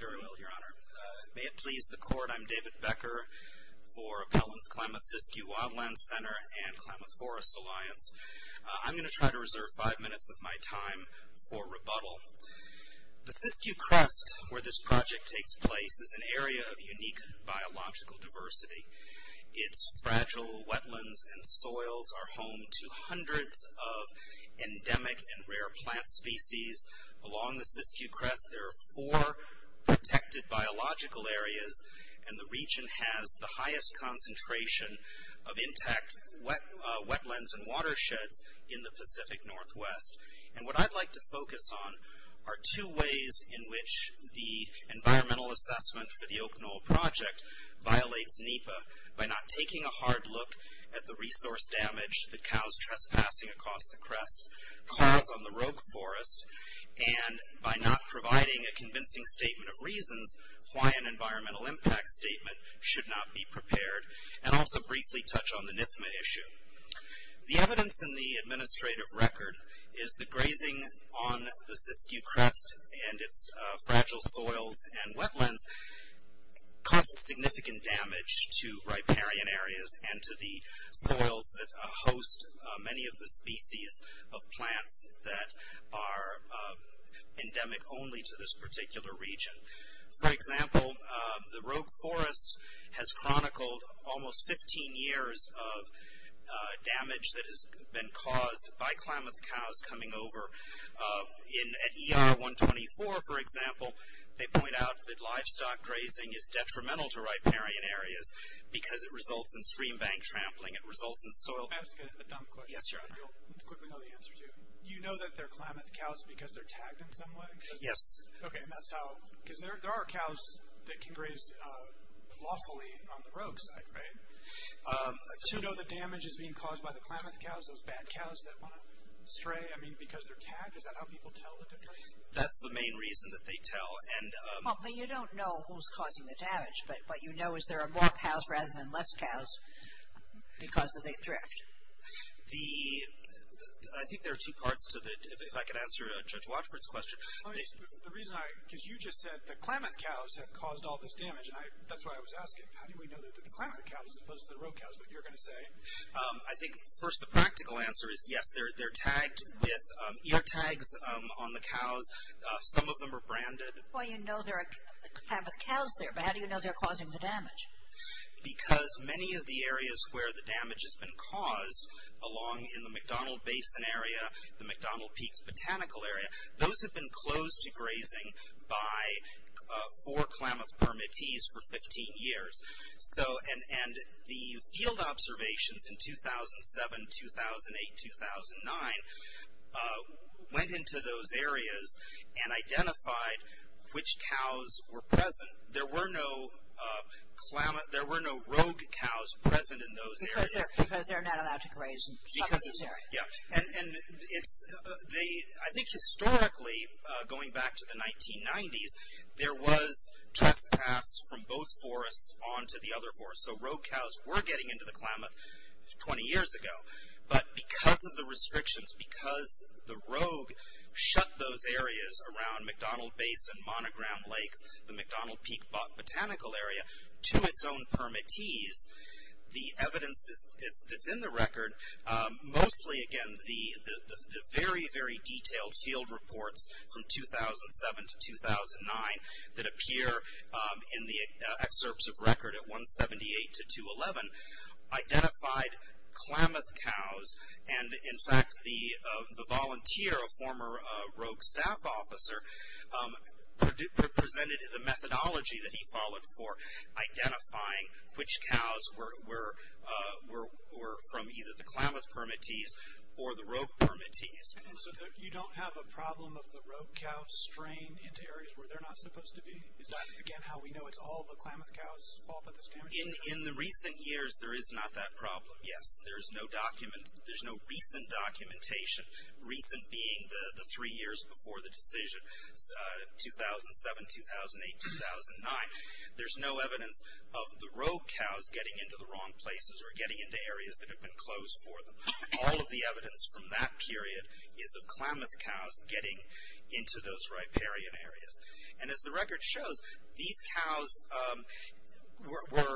Very well, Your Honor. May it please the Court, I'm David Becker for Appellant's Klamath Siskiyou Wildlands Center and Klamath Forest Alliance. I'm going to try to reserve five minutes of my time for rebuttal. The Siskiyou Crest, where this project takes place, is an area of unique biological diversity. Its fragile wetlands and soils are home to hundreds of endemic and rare plant species. Along the Siskiyou Crest, there are four protected biological areas, and the region has the highest concentration of intact wetlands and watersheds in the Pacific Northwest. And what I'd like to focus on are two ways in which the environmental assessment for the Oak Knoll Project violates NEPA by not taking a hard look at the resource damage that cows trespassing across the crest cause on the rogue forest, and by not providing a convincing statement of reasons why an environmental impact statement should not be prepared, and also briefly touch on the NIFMA issue. The evidence in the administrative record is that grazing on the Siskiyou Crest and its fragile soils and wetlands causes significant damage to riparian areas and to the soils that host many of the species of plants that are endemic only to this particular region. For example, the rogue forest has chronicled almost 15 years of damage that has been caused by Klamath cows coming over. At ER 124, for example, they point out that livestock grazing is detrimental to riparian areas because it results in stream bank trampling, it results in soil... Can I ask a dumb question? Yes, your honor. You'll quickly know the answer to it. You know that they're Klamath cows because they're tagged in some way? Yes. Okay, and that's how... because there are cows that can graze lawfully on the rogue side, right? Do you know the damage that's being caused by the Klamath cows, those bad cows that want to stray? I mean, because they're tagged, is that how people tell the difference? That's the main reason that they tell. Well, you don't know who's causing the damage, but what you know is there are more cows rather than less cows because of the drift. The... I think there are two parts to that. If I could answer Judge Watford's question. The reason I... because you just said the Klamath cows have caused all this damage, and that's why I was asking. How do we know that the Klamath cows as opposed to the rogue cows, what you're going to say? I think first the practical answer is yes, they're tagged with ear tags on the cows. Some of them are branded. Well, you know there are Klamath cows there, but how do you know they're causing the damage? Because many of the areas where the damage has been caused, along in the McDonnell Basin area, the McDonnell Peaks Botanical Area, those have been closed to grazing by four Klamath permittees for 15 years. So, and the field observations in 2007, 2008, 2009 went into those areas and identified which cows were present. There were no Klamath... there were no rogue cows present in those areas. Because they're not allowed to graze in those areas. Yeah, and I think historically, going back to the 1990s, there was trespass from both forests onto the other forests. So, rogue cows were getting into the Klamath 20 years ago, but because of the restrictions, because the rogue shut those areas around McDonnell Basin, Monogram Lake, the McDonnell Peak Botanical Area, to its own permittees, the evidence that's in the record, mostly again the very, very detailed field reports from 2007 to 2009 that appear in the excerpts of record at 178 to 211, identified Klamath cows and in fact the volunteer, a former rogue staff officer, presented the methodology that he followed for identifying which cows were from either the Klamath permittees or the rogue permittees. So, you don't have a problem of the rogue cow strain into areas where they're not supposed to be? Is that again how we know it's all the Klamath cows fault that's damaged? In the recent years, there is not that problem, yes. There's no recent documentation, recent being the three years before the decision, 2007, 2008, 2009. There's no evidence of the rogue cows getting into the wrong places or getting into areas that have been closed for them. All of the evidence from that period is of Klamath cows getting into those riparian areas. And as the record shows, these cows were,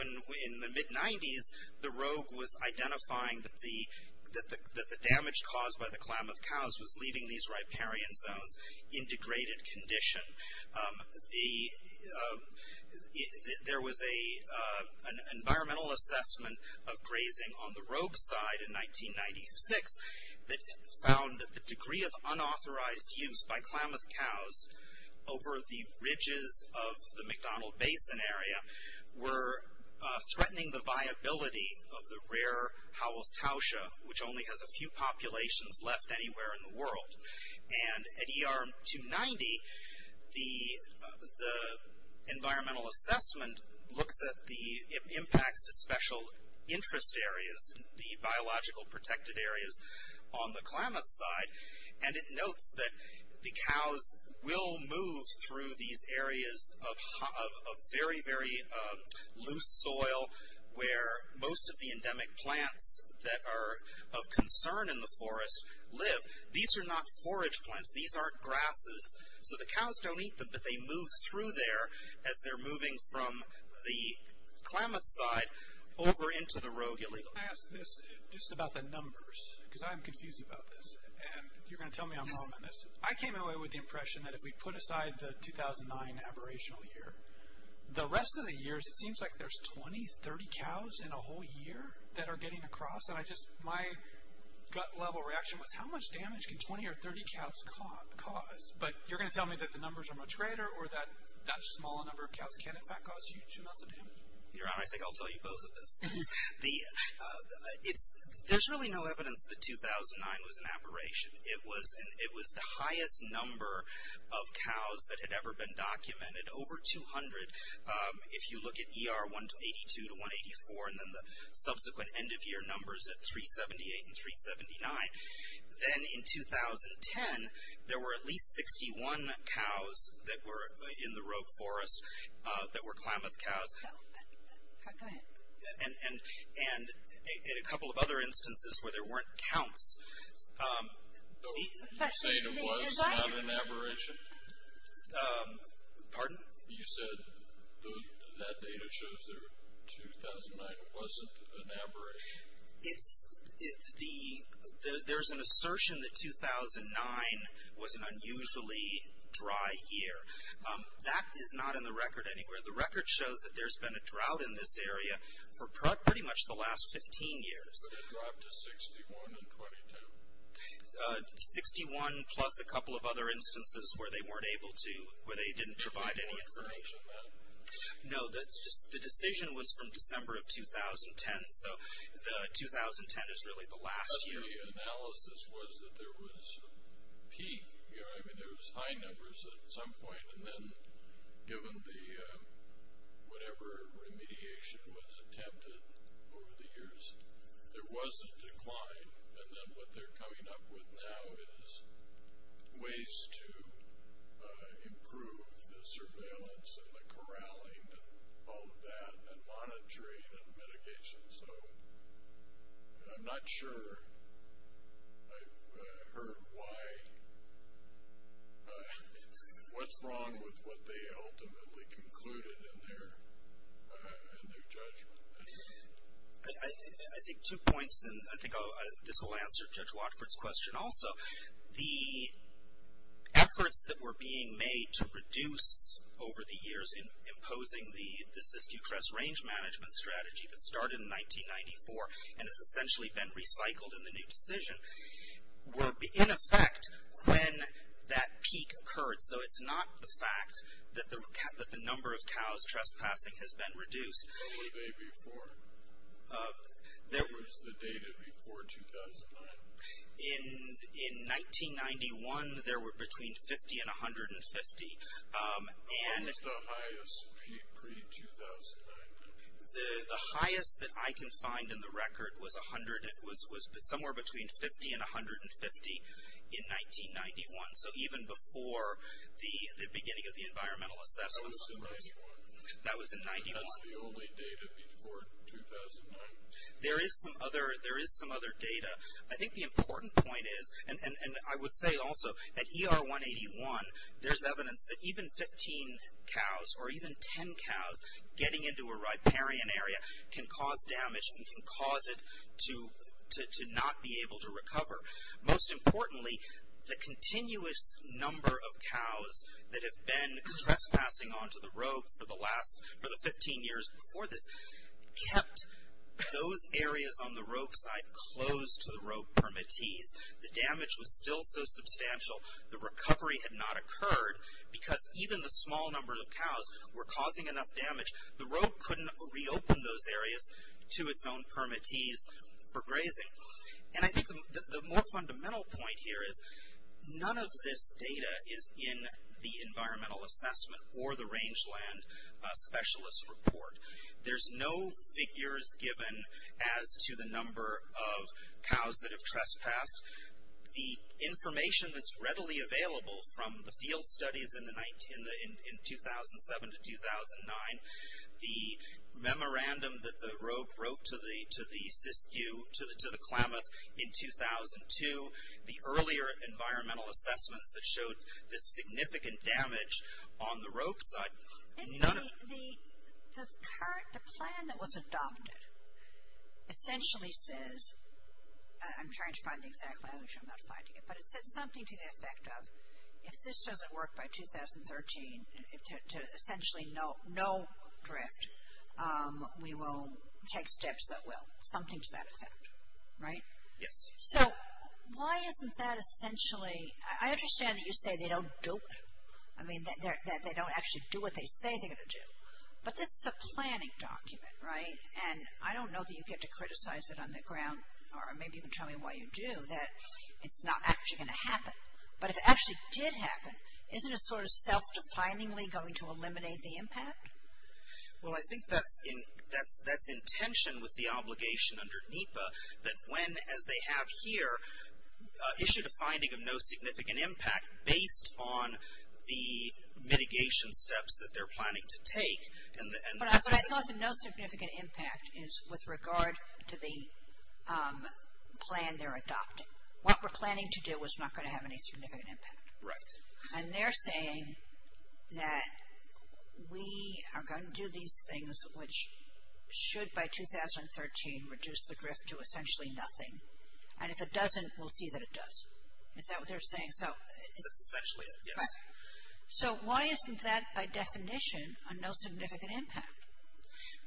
in the mid-90s, the rogue was identifying that the damage caused by the Klamath cows was leaving these riparian zones in degraded condition. There was an environmental assessment of grazing on the rogue side in 1996 that found that the degree of unauthorized use by Klamath cows over the ridges of the McDonnell Basin area were threatening the viability of the rare Howells-Towsha, which only has a few populations left anywhere in the world. And at ER 290, the environmental assessment looks at the impacts to special interest areas, the biological protected areas on the Klamath side, and it notes that the cows will move through these areas of very, very loose soil where most of the endemic plants that are of concern in the forest live. These are not forage plants. These aren't grasses. So the cows don't eat them, but they move through there as they're moving from the Klamath side over into the rogue area. I asked this just about the numbers, because I'm confused about this. And you're going to tell me I'm wrong on this. I came away with the impression that if we put aside the 2009 aberrational year, the rest of the years, it seems like there's 20, 30 cows in a whole year that are getting across. And I just, my gut-level reaction was, how much damage can 20 or 30 cows cause? But you're going to tell me that the numbers are much greater or that that small number of cows can, in fact, cause huge amounts of damage? Your Honor, I think I'll tell you both of those things. There's really no evidence that 2009 was an aberration. It was the highest number of cows that had ever been documented, over 200. If you look at ER 182 to 184 and then the subsequent end-of-year numbers at 378 and 379, then in 2010, there were at least 61 cows that were in the rogue forest that were Klamath cows. And a couple of other instances where there weren't counts. But you say it was not an aberration? Pardon? You said that data shows that 2009 wasn't an aberration. It's the, there's an assertion that 2009 was an unusually dry year. That is not in the record anywhere. The record shows that there's been a drought in this area for pretty much the last 15 years. But it dropped to 61 and 22? 61 plus a couple of other instances where they weren't able to, where they didn't provide any information. No, that's just, the decision was from December of 2010. So 2010 is really the last year. But the analysis was that there was a peak. I mean, there was high numbers at some point. And then given the, whatever remediation was attempted over the years, there was a decline. And then what they're coming up with now is ways to improve the surveillance and the corralling and all of that, and monitoring and mitigation. So I'm not sure I've heard why, what's wrong with what they ultimately concluded in their judgment. I think two points, and I think this will answer Judge Watford's question also. The efforts that were being made to reduce over the years, imposing the Siskiyou Crest Range Management Strategy that started in 1994, and has essentially been recycled in the new decision, were in effect when that peak occurred. So it's not the fact that the number of cows trespassing has been reduced. What were they before? What was the data before 2009? In 1991, there were between 50 and 150. What was the highest peak pre-2009? The highest that I can find in the record was somewhere between 50 and 150 in 1991. So even before the beginning of the environmental assessments. That was in 91. That was in 91. That's the only data before 2009. There is some other data. I think the important point is, and I would say also that ER 181, there's evidence that even 15 cows or even 10 cows getting into a riparian area can cause damage and can cause it to not be able to recover. Most importantly, the continuous number of cows that have been trespassing onto the Rogue for the 15 years before this kept those areas on the Rogue side closed to the Rogue permittees. The damage was still so substantial, the recovery had not occurred, because even the small number of cows were causing enough damage. The Rogue couldn't reopen those areas to its own permittees for grazing. And I think the more fundamental point here is, none of this data is in the environmental assessment or the rangeland specialist report. There's no figures given as to the number of cows that have trespassed. The information that's readily available from the field studies in 2007 to 2009, the memorandum that the Rogue wrote to the Siskiyou, to the Klamath in 2002, the earlier environmental assessments that showed the significant damage on the Rogue side, none of it. The plan that was adopted essentially says, I'm trying to find the exact language I'm not finding it, but it said something to the effect of, if this doesn't work by 2013, to essentially no drift, we will take steps that will. Something to that effect, right? Yes. So, why isn't that essentially, I understand that you say they don't dope. I mean, that they don't actually do what they say they're going to do. But this is a planning document, right? And I don't know that you get to criticize it on the ground, or maybe even tell me why you do, that it's not actually going to happen. But if it actually did happen, isn't it sort of self-definingly going to eliminate the impact? Well, I think that's in tension with the obligation under NEPA that when, as they have here, issued a finding of no significant impact based on the mitigation steps that they're planning to take. But I thought the no significant impact is with regard to the plan they're adopting. What we're planning to do is not going to have any significant impact. Right. And they're saying that we are going to do these things which should, by 2013, reduce the drift to essentially nothing. And if it doesn't, we'll see that it does. Is that what they're saying? So. That's essentially it, yes. So, why isn't that, by definition, a no significant impact?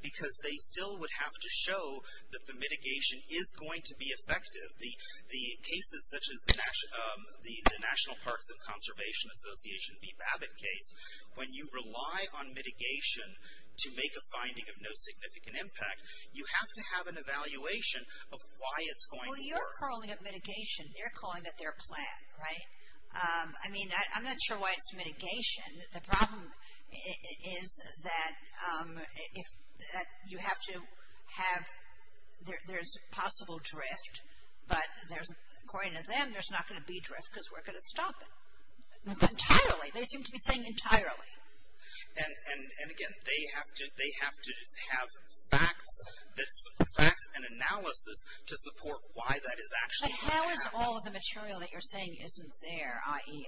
Because they still would have to show that the mitigation is going to be effective. The cases such as the National Parks and Conservation Association, the Babbitt case, when you rely on mitigation to make a finding of no significant impact, you have to have an evaluation of why it's going to work. Well, you're calling it mitigation. You're calling it their plan. Right. I mean, I'm not sure why it's mitigation. The problem is that you have to have, there's possible drift, but according to them, there's not going to be drift because we're going to stop it. Entirely. They seem to be saying entirely. And, again, they have to have facts and analysis to support why that is actually happening. But how is all of the material that you're saying isn't there? I mean,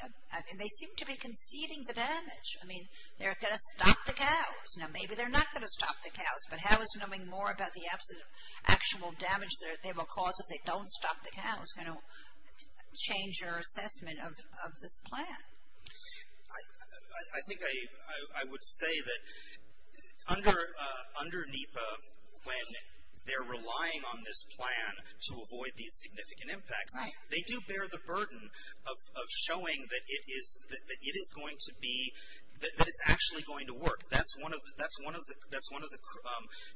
they seem to be conceding the damage. I mean, they're going to stop the cows. Now, maybe they're not going to stop the cows, but how is knowing more about the absolute actual damage they will cause if they don't stop the cows going to change your assessment of this plan? I think I would say that under NEPA, when they're relying on this plan to avoid these significant impacts, they do bear the burden of showing that it is going to be, that it's actually going to work. That's one of the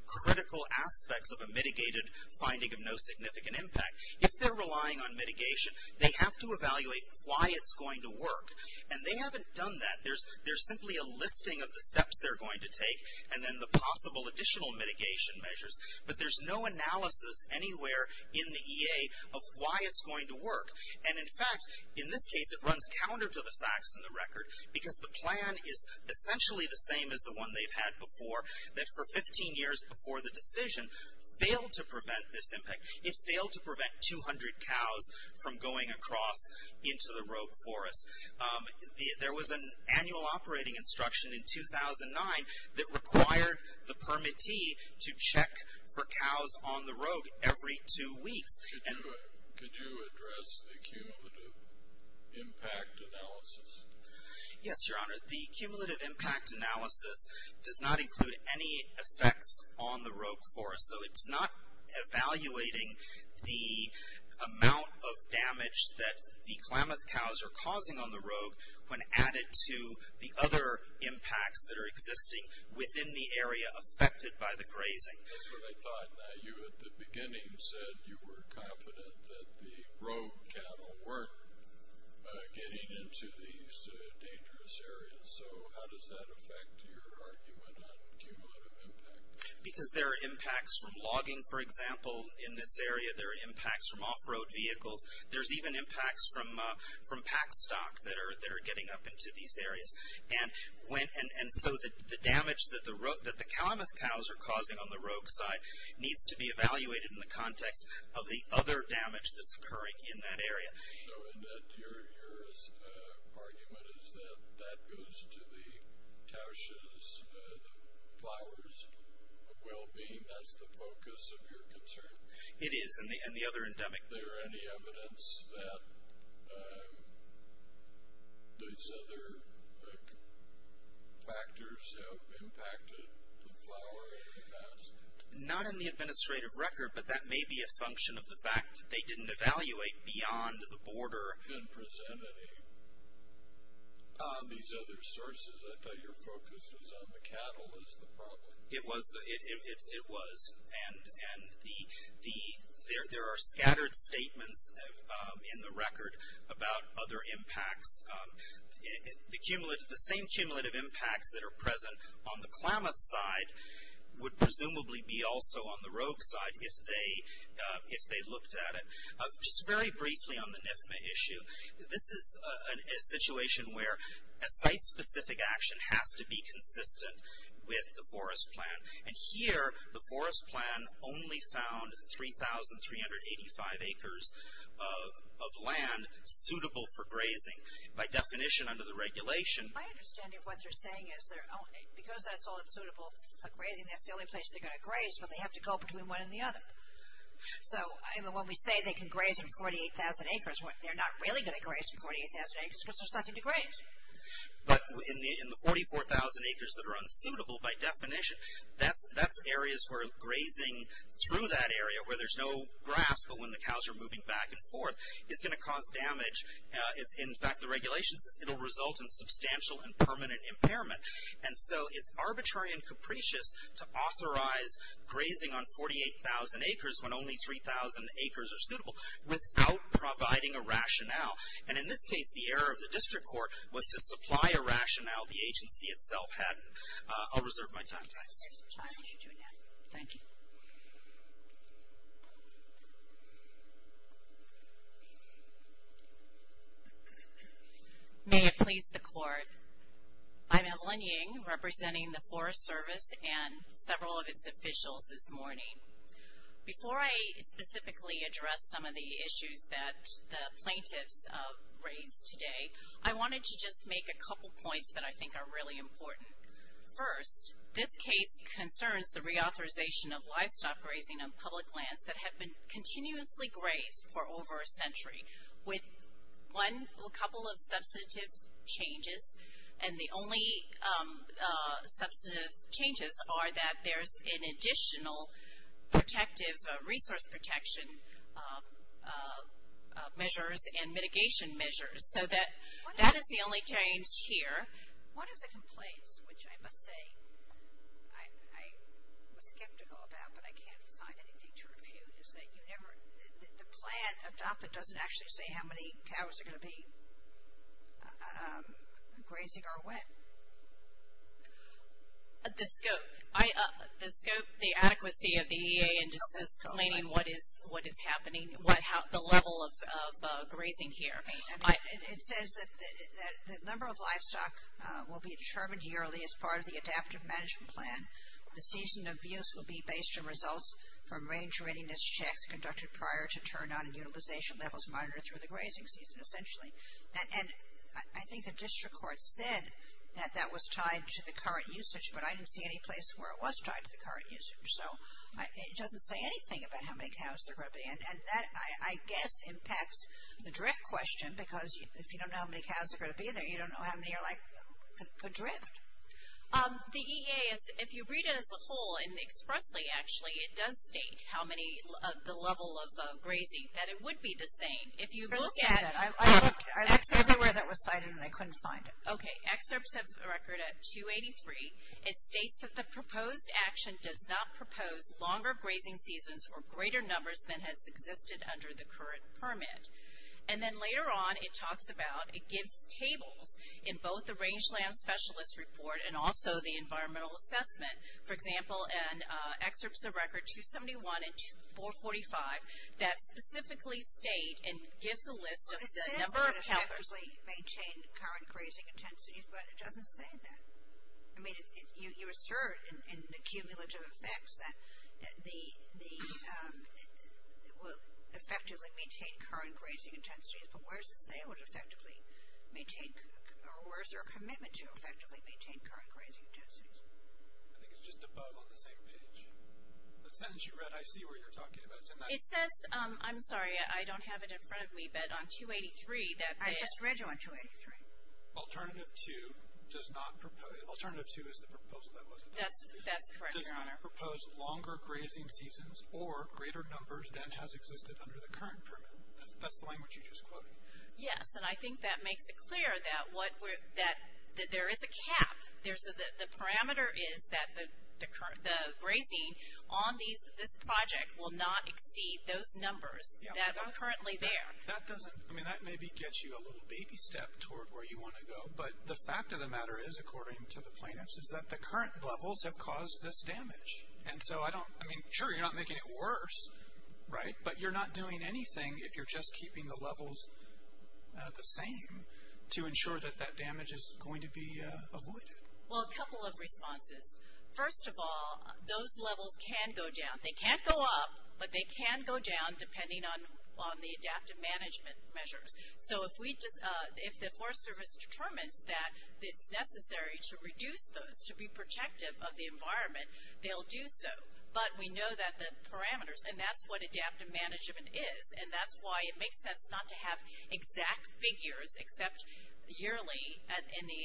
critical aspects of a mitigated finding of no significant impact. If they're relying on mitigation, they have to evaluate why it's going to work. And they haven't done that. There's simply a listing of the steps they're going to take and then the possible additional mitigation measures. But there's no analysis anywhere in the EA of why it's going to work. And in fact, in this case, it runs counter to the facts in the record because the plan is essentially the same as the one they've had before, that for 15 years before the decision, failed to prevent this impact. It failed to prevent 200 cows from going across into the Rogue Forest. There was an annual operating instruction in 2009 that required the permittee to check for cows on the Rogue every two weeks. Could you address the cumulative impact analysis? Yes, Your Honor. The cumulative impact analysis does not include any effects on the Rogue Forest. So it's not evaluating the amount of damage that the Klamath cows are causing on the Rogue when added to the other impacts that are existing within the area affected by the grazing. That's what I thought. Now, you at the beginning said you were confident that the rogue cattle weren't getting into these dangerous areas. So how does that affect your argument on cumulative impact? Because there are impacts from logging, for example, in this area. There are impacts from off-road vehicles. There's even impacts from pack stock that are getting up into these areas. And so the damage that the Klamath cows are causing on the Rogue side needs to be evaluated in the context of the other damage that's occurring in that area. So in that, your argument is that that goes to the Towsha's, the flowers' well-being. That's the focus of your concern? It is, and the other endemic. Is there any evidence that these other factors have impacted the flower area? Not in the administrative record, but that may be a function of the fact that they didn't evaluate beyond the border. And present any of these other sources. I thought your focus was on the cattle as the problem. It was. And there are scattered statements in the record about other impacts. The same cumulative impacts that are present on the Klamath side would presumably be also on the Rogue side if they looked at it. Just very briefly on the NIFMA issue. This is a situation where a site-specific action has to be consistent with the forest plan. And here, the forest plan only found 3,385 acres of land suitable for grazing by definition under the regulation. My understanding of what they're saying is because that's all suitable for grazing, that's the only place they're going to graze, but they have to go between one and the other. So when we say they can graze in 48,000 acres, they're not really going to graze But in the 44,000 acres that are unsuitable by definition, that's areas where grazing through that area where there's no grass, but when the cows are moving back and forth, is going to cause damage. In fact, the regulation says it will result in substantial and permanent impairment. And so it's arbitrary and capricious to authorize grazing on 48,000 acres when only 3,000 acres are suitable without providing a rationale. And in this case, the error of the district court was to supply a rationale. The agency itself hadn't. I'll reserve my time. Thanks. Thank you. May it please the court. I'm Evelyn Ying, representing the Forest Service and several of its officials this morning. Before I specifically address some of the issues that the plaintiffs raised today, I wanted to just make a couple points that I think are really important. First, this case concerns the reauthorization of livestock grazing on public lands that have been continuously grazed for over a century with a couple of substantive changes. And the only substantive changes are that there's an additional protective resource protection measures and mitigation measures. So that is the only change here. One of the complaints, which I must say I was skeptical about, but I can't find anything to refute, is that you never, the plan adopted doesn't actually say how many cows are going to be grazing or what. The scope, the adequacy of the EA and just explaining what is happening, the level of grazing here. It says that the number of livestock will be determined yearly as part of the adaptive management plan. The season of use will be based on results from range readiness checks conducted prior to turn-on and utilization levels monitored through the grazing season, essentially. And I think the district court said that that was tied to the current usage, but I didn't see any place where it was tied to the current usage. So it doesn't say anything about how many cows there are going to be. And that, I guess, impacts the drift question because if you don't know how many cows are going to be there, you don't know how many are, like, going to drift. The EA, if you read it as a whole and expressly, actually, it does state how many, the level of grazing, that it would be the same. If you look at. I looked everywhere that was cited and I couldn't find it. Okay. Excerpts of the record at 283, it states that the proposed action does not propose longer grazing seasons or greater numbers than has existed under the current permit. And then later on, it talks about, it gives tables in both the rangeland specialist report and also the environmental assessment. For example, in excerpts of record 271 and 445 that specifically state and gives a list of the number of cowherds. I think it's just above on the same page. The sentence you read, I see what you're talking about. It says, I'm sorry, I don't have it in front of me. But on 283. I just read you on 283. Alternative 2 does not propose. Alternative 2 is the proposal. That's correct, your honor. Does not propose longer grazing seasons or greater numbers than has existed under the current permit. That's the language you just quoted. Yes. And I think that makes it clear that there is a cap. The parameter is that the grazing on this project will not exceed those numbers that are currently there. That doesn't, I mean, that maybe gets you a little baby step toward where you want to go. But the fact of the matter is, according to the plaintiffs, is that the current levels have caused this damage. And so I don't, I mean, sure, you're not making it worse, right? But you're not doing anything if you're just keeping the levels the same to ensure that that damage is going to be avoided. Well, a couple of responses. First of all, those levels can go down. They can't go up, but they can go down depending on the adaptive management measures. So if we, if the Forest Service determines that it's necessary to reduce those, to be protective of the environment, they'll do so. But we know that the parameters, and that's what adaptive management is, and that's why it makes sense not to have exact figures except yearly in the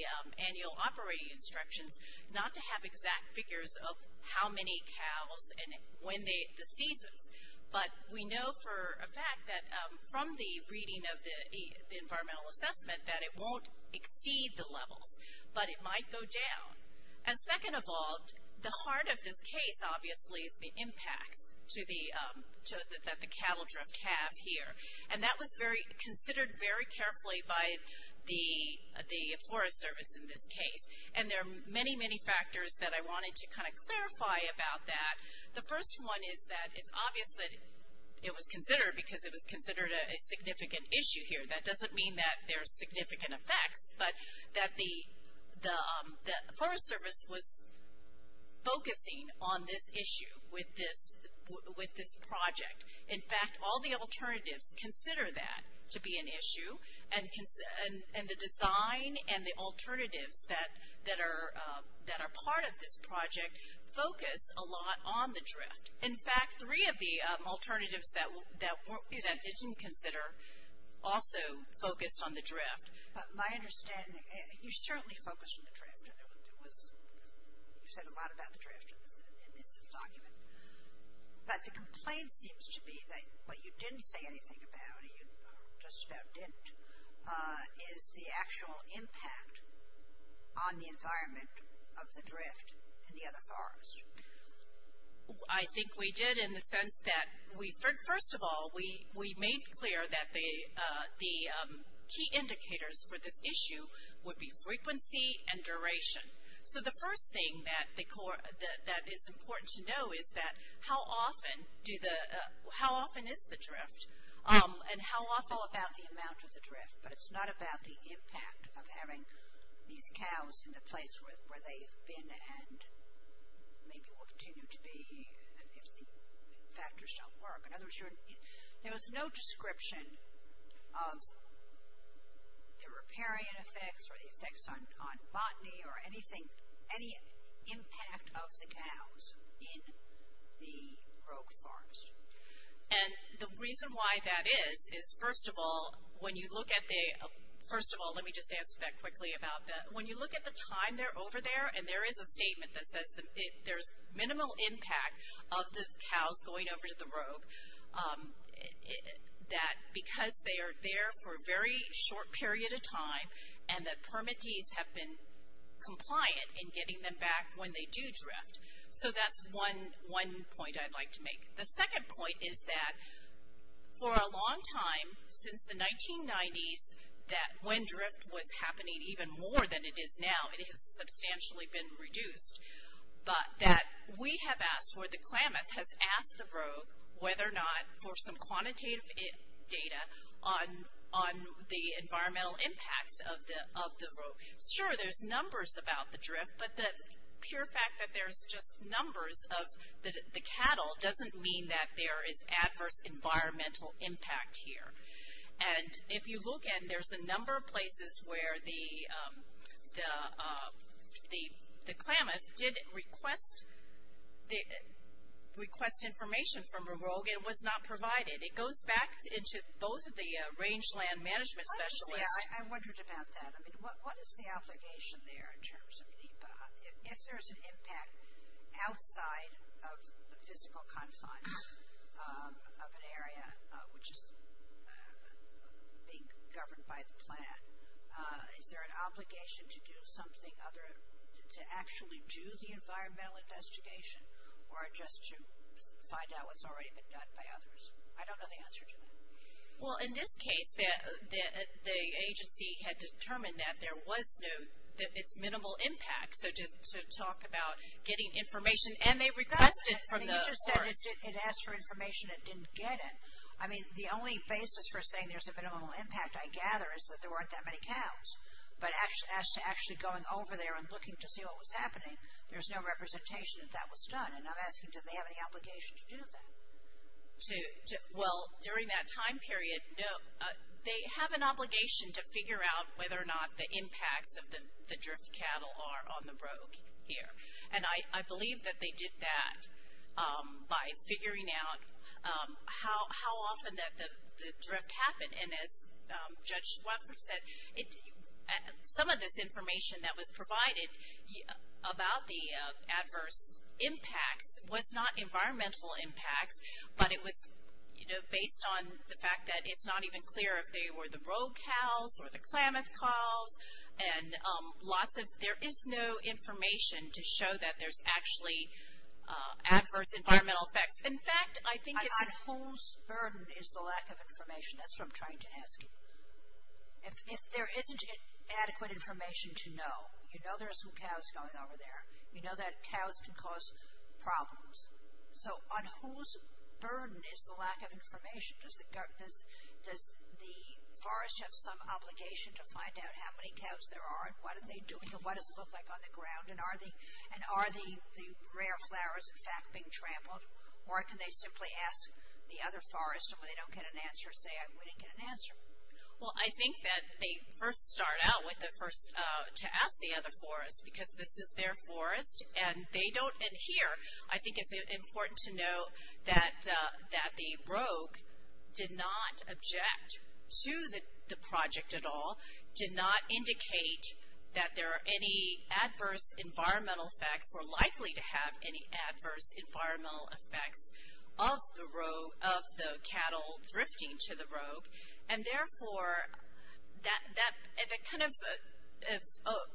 annual operating instructions, not to have exact figures of how many cows and when the seasons. But we know for a fact that from the reading of the environmental assessment that it won't exceed the levels, but it might go down. And second of all, the heart of this case, obviously, is the impacts to the, that the cattle drift have here. And that was very, considered very carefully by the Forest Service in this case. And there are many, many factors that I wanted to kind of clarify about that. The first one is that it's obvious that it was considered because it was considered a significant issue here. That doesn't mean that there's significant effects, but that the Forest Service was focusing on this issue with this project. In fact, all the alternatives consider that to be an issue. And the design and the alternatives that are part of this project focus a lot on the drift. In fact, three of the alternatives that didn't consider also focused on the drift. But my understanding, you certainly focused on the drift. It was, you said a lot about the drift in this document. But the complaint seems to be that what you didn't say anything about, or you just about didn't, is the actual impact on the environment of the drift in the other forest. I think we did in the sense that we, first of all, we made clear that the key indicators for this issue would be frequency and duration. So the first thing that is important to know is that how often do the, how often is the drift, and how often. It's all about the amount of the drift, but it's not about the impact of having these cows in the place where they've been and maybe will continue to be if the factors don't work. In other words, there was no description of the riparian effects or the effects on botany or anything, any impact of the cows in the rogue forest. And the reason why that is, is first of all, when you look at the, first of all, let me just answer that quickly about that. When you look at the time they're over there, and there is a statement that says there's minimal impact of the cows going over to the rogue, that because they are there for a very short period of time, and the permittees have been compliant in getting them back when they do drift. So that's one point I'd like to make. The second point is that for a long time, since the 1990s, that when drift was happening even more than it is now, it has substantially been reduced. But that we have asked, or the Klamath has asked the rogue whether or not for some quantitative data on the environmental impacts of the rogue. Sure, there's numbers about the drift, but the pure fact that there's just numbers of the cattle doesn't mean that there is adverse environmental impact here. And if you look at, there's a number of places where the Klamath did request information from a rogue and was not provided. It goes back into both of the range land management specialists. I wondered about that. I mean, what is the obligation there in terms of, if there's an impact outside of the physical confines of an area which is being governed by the plant, is there an obligation to do something other, to actually do the environmental investigation or just to find out what's already been done by others? I don't know the answer to that. Well, in this case, the agency had determined that there was no, that it's minimal impact. So just to talk about getting information, and they requested from the forest. You just said it asked for information, it didn't get it. I mean, the only basis for saying there's a minimal impact, I gather, is that there weren't that many cows. But as to actually going over there and looking to see what was happening, there's no representation that that was done. And I'm asking, do they have any obligation to do that? Well, during that time period, no. They have an obligation to figure out whether or not the impacts of the drift cattle are on the brogue here. And I believe that they did that by figuring out how often that the drift happened. And as Judge Swetford said, some of this information that was provided about the adverse impacts was not environmental impacts, but it was, you know, based on the fact that it's not even clear if they were the brogue cows or the Klamath cows. And lots of, there is no information to show that there's actually adverse environmental effects. In fact, I think it's. On whose burden is the lack of information? That's what I'm trying to ask you. If there isn't adequate information to know, you know there are some cows going over there. You know that cows can cause problems. So on whose burden is the lack of information? Does the forest have some obligation to find out how many cows there are and what are they doing and what does it look like on the ground? And are the rare flowers, in fact, being trampled? Or can they simply ask the other forest and when they don't get an answer say, we didn't get an answer. Well, I think that they first start out with the first, to ask the other forest because this is their forest and they don't adhere. I think it's important to know that the brogue did not object to the project at all, did not indicate that there are any adverse environmental effects or likely to have any adverse environmental effects of the cattle drifting to the brogue. And, therefore, that kind of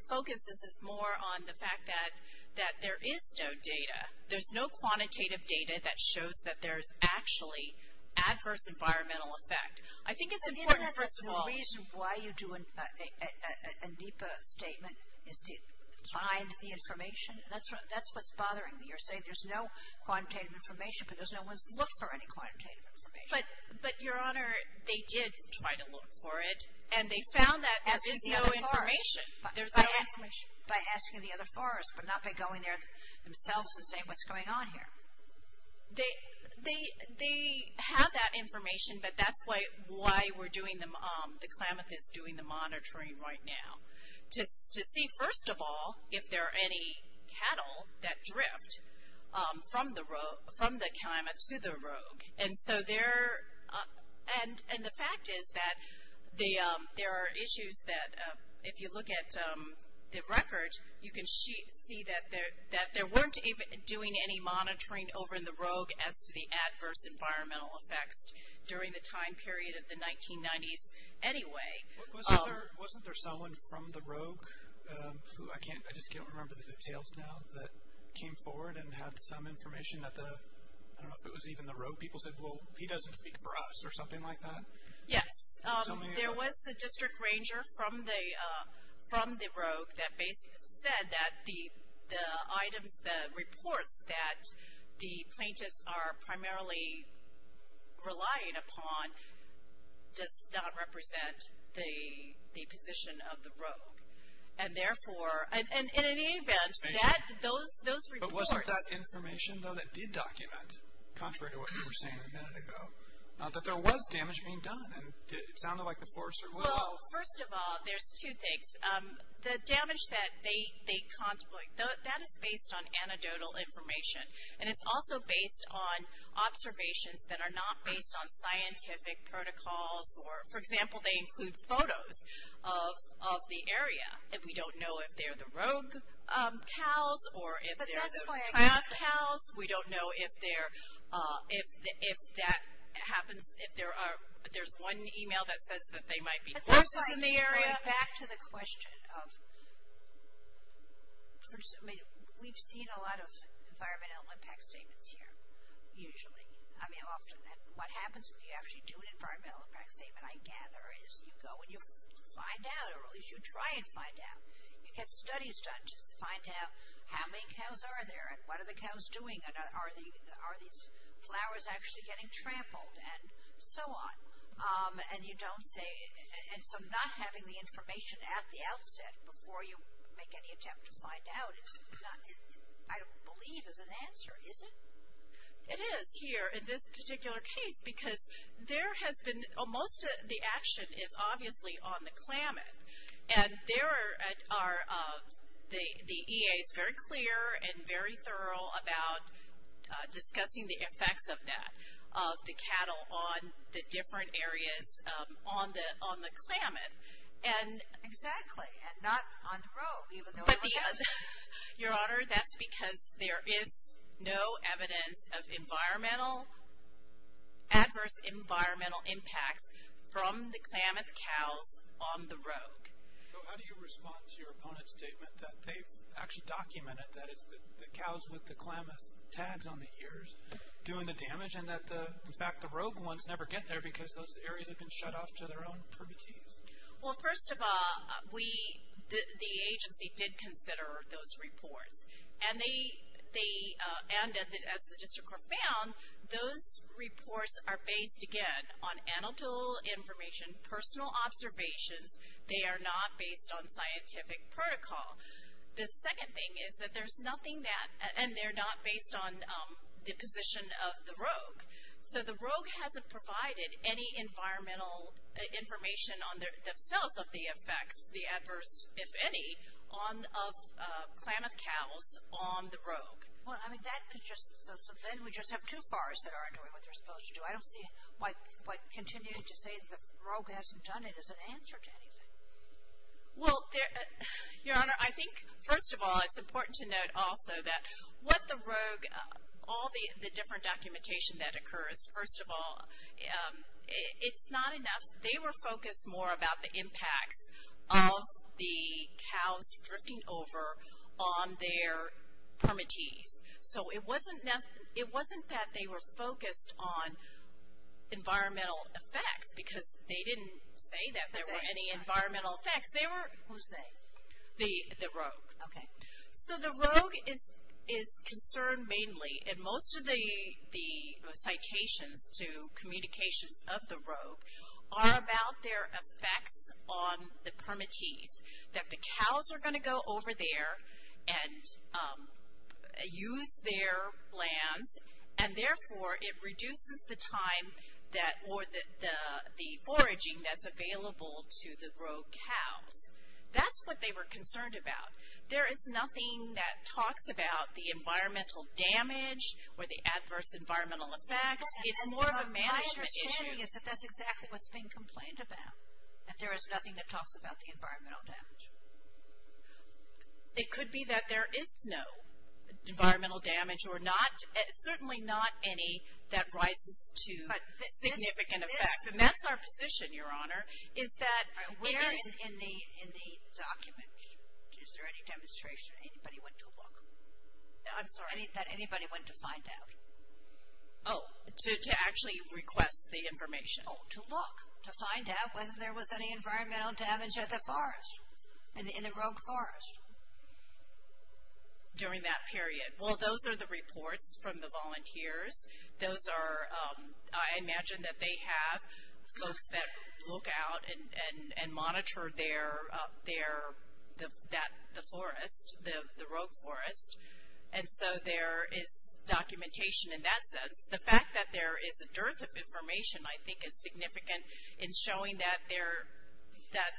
focuses more on the fact that there is no data. There's no quantitative data that shows that there's actually adverse environmental effect. I think it's important, first of all. The reason why you do a NEPA statement is to find the information. That's what's bothering me. You're saying there's no quantitative information, but there's no one to look for any quantitative information. But, Your Honor, they did try to look for it and they found that there is no information. By asking the other forest, but not by going there themselves and saying, what's going on here? They have that information, but that's why we're doing the, the Klamath is doing the monitoring right now. To see, first of all, if there are any cattle that drift from the Klamath to the brogue. And so there, and the fact is that there are issues that if you look at the record, you can see that there, that there weren't even doing any monitoring over in the brogue as to the adverse environmental effects during the time period of the 1990s anyway. Wasn't there, wasn't there someone from the brogue who, I can't, I just can't remember the details now that came forward and had some information that the, I don't know if it was even the brogue people said, well, he doesn't speak for us or something like that? Yes. There was a district ranger from the, from the brogue that basically said that the, the items, the reports that the plaintiffs are primarily relying upon does not represent the, the position of the brogue. And therefore, and in any event, that, those, those reports. But wasn't that information, though, that did document, contrary to what you were saying a minute ago, that there was damage being done and it sounded like the forester will. Well, first of all, there's two things. The damage that they, they contemplate, that is based on anecdotal information. And it's also based on observations that are not based on scientific protocols or, for example, they include photos of, of the area. And we don't know if they're the rogue cows or if they're. We don't know if they're, if, if that happens, if there are, there's one email that says that they might be horses in the area. Back to the question of, I mean, we've seen a lot of environmental impact statements here, usually. I mean, often, what happens when you actually do an environmental impact statement, I gather, is you go and you find out, or at least you try and find out. You get studies done just to find out how many cows are there and what are the cows doing and are these flowers actually getting trampled and so on. And you don't say, and so not having the information at the outset before you make any attempt to find out is not, I don't believe is an answer, is it? It is here in this particular case because there has been, most of the action is obviously on the climate. And there are, the EA is very clear and very thorough about discussing the effects of that, of the cattle on the different areas on the, on the climate. And. Exactly. And not on the road, even though. Your Honor, that's because there is no evidence of environmental, adverse environmental impacts from the Klamath cows on the road. How do you respond to your opponent's statement that they've actually documented that it's the cows with the Klamath tags on the ears doing the damage and that the, in fact, the rogue ones never get there because those areas have been shut off to their own permittees? Well, first of all, we, the agency did consider those reports. And they, they, and as the district court found, those reports are based, again, on anecdotal information, personal observations. They are not based on scientific protocol. The second thing is that there's nothing that, and they're not based on the position of the rogue. So the rogue hasn't provided any environmental information on themselves of the effects, the adverse, if any, on, of Klamath cows on the rogue. Well, I mean, that is just, then we just have two forests that aren't doing what they're supposed to do. I don't see why, why continue to say the rogue hasn't done it as an answer to anything. Well, there, Your Honor, I think, first of all, it's important to note also that what the rogue, all the different documentation that occurs, first of all, it's not enough. They were focused more about the impacts of the cows drifting over on their permittees. So it wasn't, it wasn't that they were focused on environmental effects, because they didn't say that there were any environmental effects. They were. Who's they? The, the rogue. Okay. So the rogue is, is concerned mainly, and most of the, the citations to communications of the rogue are about their effects on the permittees. That the cows are going to go over there and use their lands, and therefore, it reduces the time that, or the foraging that's available to the rogue cows. That's what they were concerned about. There is nothing that talks about the environmental damage or the adverse environmental effects. It's more of a management issue. My understanding is that that's exactly what's being complained about. That there is nothing that talks about the environmental damage. It could be that there is no environmental damage, or not, certainly not any that rises to significant effect. But this, this. And that's our position, Your Honor, is that we're. In the, in the document, is there any demonstration, anybody went to a book? I'm sorry. That anybody went to find out? Oh, to, to actually request the information. Oh, to look. To find out whether there was any environmental damage at the forest. In, in the rogue forest. During that period. Well, those are the reports from the volunteers. Those are, I imagine that they have folks that look out and, and, and monitor their, their, that, the forest, the, the rogue forest. And so there is documentation in that sense. The fact that there is a dearth of information, I think, is significant in showing that there, that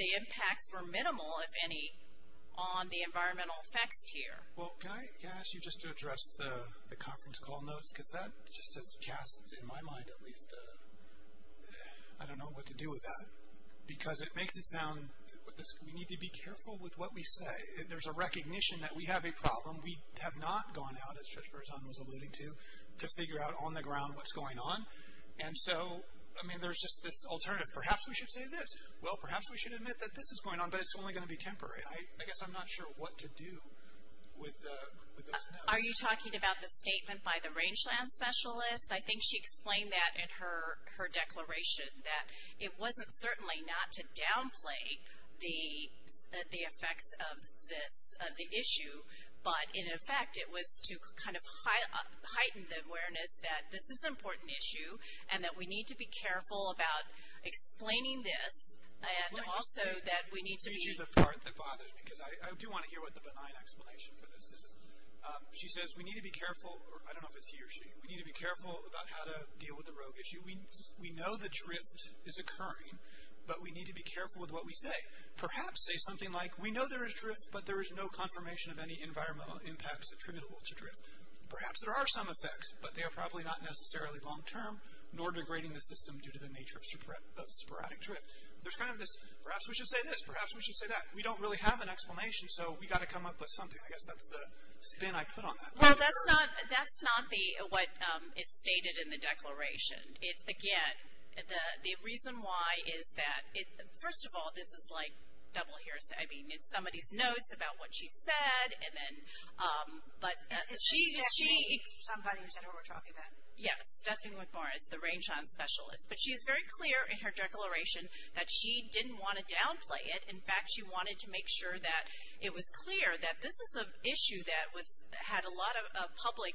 the impacts were minimal, if any, on the environmental effects here. Well, can I, can I ask you just to address the, the conference call notes? Because that just has cast, in my mind at least, I don't know what to do with that. Because it makes it sound, we need to be careful with what we say. There's a recognition that we have a problem. We have not gone out, as Trish Berzon was alluding to, to figure out on the ground what's going on. And so, I mean, there's just this alternative. Perhaps we should say this. Well, perhaps we should admit that this is going on, but it's only going to be temporary. I, I guess I'm not sure what to do with, with those notes. Are you talking about the statement by the rangeland specialist? I think she explained that in her, her declaration. That it wasn't certainly not to downplay the, the effects of this, of the issue. But in effect, it was to kind of heighten the awareness that this is an important issue. And that we need to be careful about explaining this. And also that we need to be. Let me do the part that bothers me. Because I, I do want to hear what the benign explanation for this is. She says we need to be careful. I don't know if it's he or she. We need to be careful about how to deal with the rogue issue. We, we know the drift is occurring. But we need to be careful with what we say. Perhaps say something like, we know there is drift. But there is no confirmation of any environmental impacts attributable to drift. Perhaps there are some effects. But they are probably not necessarily long term. Nor degrading the system due to the nature of sporadic drift. There's kind of this, perhaps we should say this. Perhaps we should say that. We don't really have an explanation. So we've got to come up with something. I guess that's the spin I put on that. Well, that's not, that's not the, what is stated in the declaration. It's, again, the, the reason why is that it, first of all, this is like double hearsay. I mean, it's somebody's notes about what she said. And then, but she, she. Somebody said what we're talking about. Yes. Stephanie McMorris. The Rainshot Specialist. But she's very clear in her declaration that she didn't want to downplay it. In fact, she wanted to make sure that it was clear that this is an issue that was, had a lot of public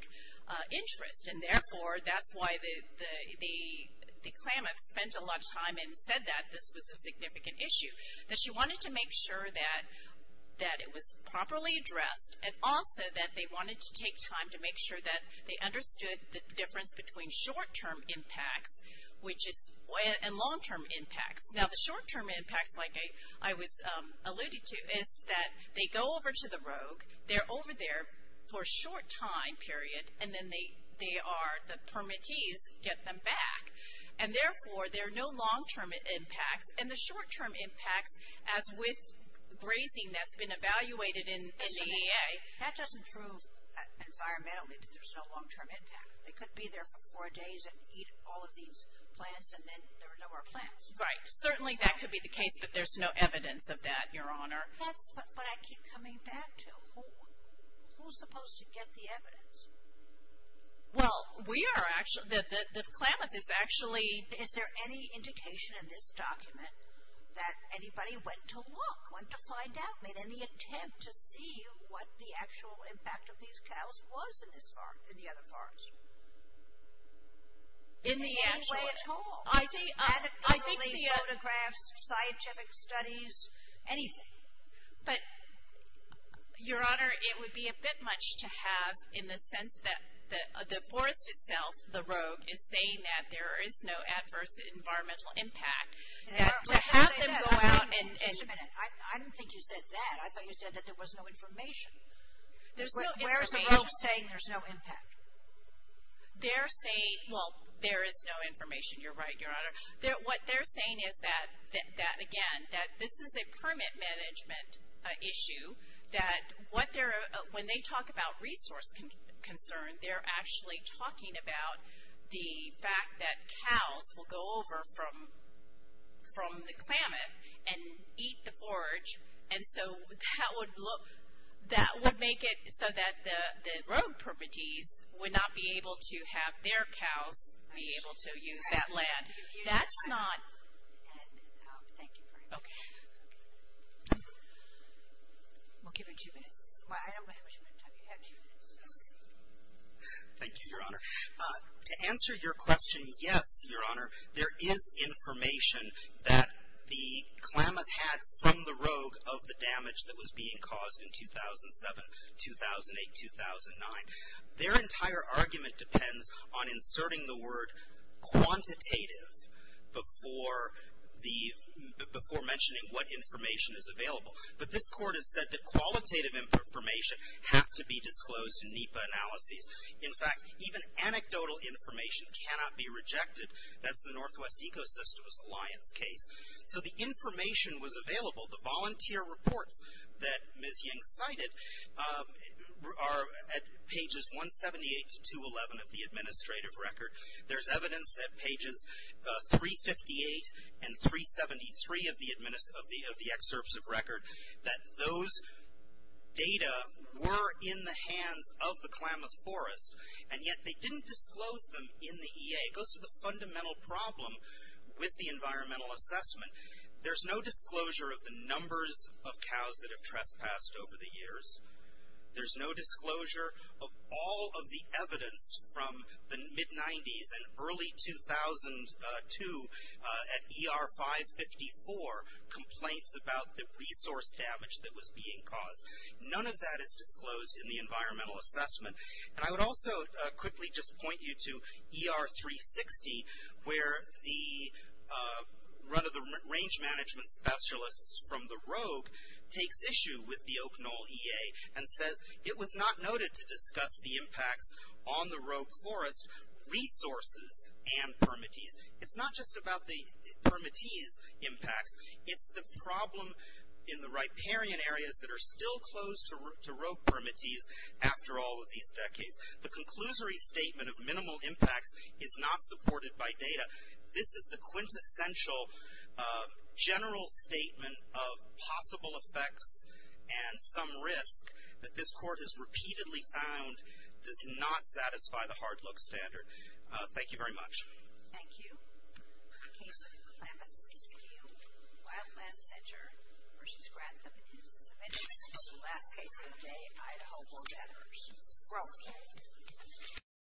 interest. And therefore, that's why the Klamath spent a lot of time and said that this was a significant issue. That she wanted to make sure that, that it was properly addressed. And also that they wanted to take time to make sure that they understood the difference between short-term impacts, which is, and long-term impacts. Now the short-term impacts, like I was alluding to, is that they go over to the Rogue. They're over there for a short time period. And then they are, the permittees get them back. And therefore, there are no long-term impacts. And the short-term impacts, as with grazing that's been evaluated in the EA. That doesn't prove environmentally that there's no long-term impact. They could be there for four days and eat all of these plants, and then there were no more plants. Right. Certainly that could be the case. But there's no evidence of that, Your Honor. That's what I keep coming back to. Who's supposed to get the evidence? Well, we are actually, the Klamath is actually. Is there any indication in this document that anybody went to look, went to find out, made any attempt to see what the actual impact of these cows was in this farm, in the other farms? In the actual. In any way at all? I think. Photographs, scientific studies, anything. But, Your Honor, it would be a bit much to have in the sense that the forest itself, the rogue, is saying that there is no adverse environmental impact. To have them go out and. Just a minute. I didn't think you said that. I thought you said that there was no information. There's no information. Where's the rogue saying there's no impact? They're saying, well, there is no information. You're right, Your Honor. What they're saying is that, again, that this is a permit management issue. That what they're, when they talk about resource concern, they're actually talking about the fact that cows will go over from the Klamath and eat the forage. And so that would make it so that the rogue permittees would not be able to have their cows be able to use that land. That's not. Thank you very much. Okay. We'll give it two minutes. I don't know how much more time you have. Two minutes. Okay. Thank you, Your Honor. To answer your question, yes, Your Honor, there is information that the Klamath had from the rogue of the damage that was being caused in 2007, 2008, 2009. Their entire argument depends on inserting the word quantitative before the, before mentioning what information is available. But this court has said that qualitative information has to be disclosed in NEPA analyses. In fact, even anecdotal information cannot be rejected. That's the Northwest Ecosystems Alliance case. So the information was available. The volunteer reports that Ms. Ying cited are at pages 178 to 211 of the administrative record. There's evidence at pages 358 and 373 of the excerpts of record that those data were in the hands of the Klamath Forest, and yet they didn't disclose them in the EA. It goes to the fundamental problem with the environmental assessment. There's no disclosure of the numbers of cows that have trespassed over the years. There's no disclosure of all of the evidence from the mid-90s and early 2002 at ER 554 complaints about the resource damage that was being caused. None of that is disclosed in the environmental assessment. And I would also quickly just point you to ER 360 where the run of the range management specialists from the Rogue takes issue with the Oak Knoll EA and says, it was not noted to discuss the impacts on the Rogue Forest resources and permittees. It's not just about the permittees impacts. It's the problem in the riparian areas that are still closed to Rogue permittees after all of these decades. The conclusory statement of minimal impacts is not supported by data. This is the quintessential general statement of possible effects and some risk that this court has repeatedly found does not satisfy the hard look standard. Thank you very much. Thank you. The case of Clemmons Field, Wildland Center versus Grantham is submitted. This is the last case of the day. Idaho will gather. Rogue.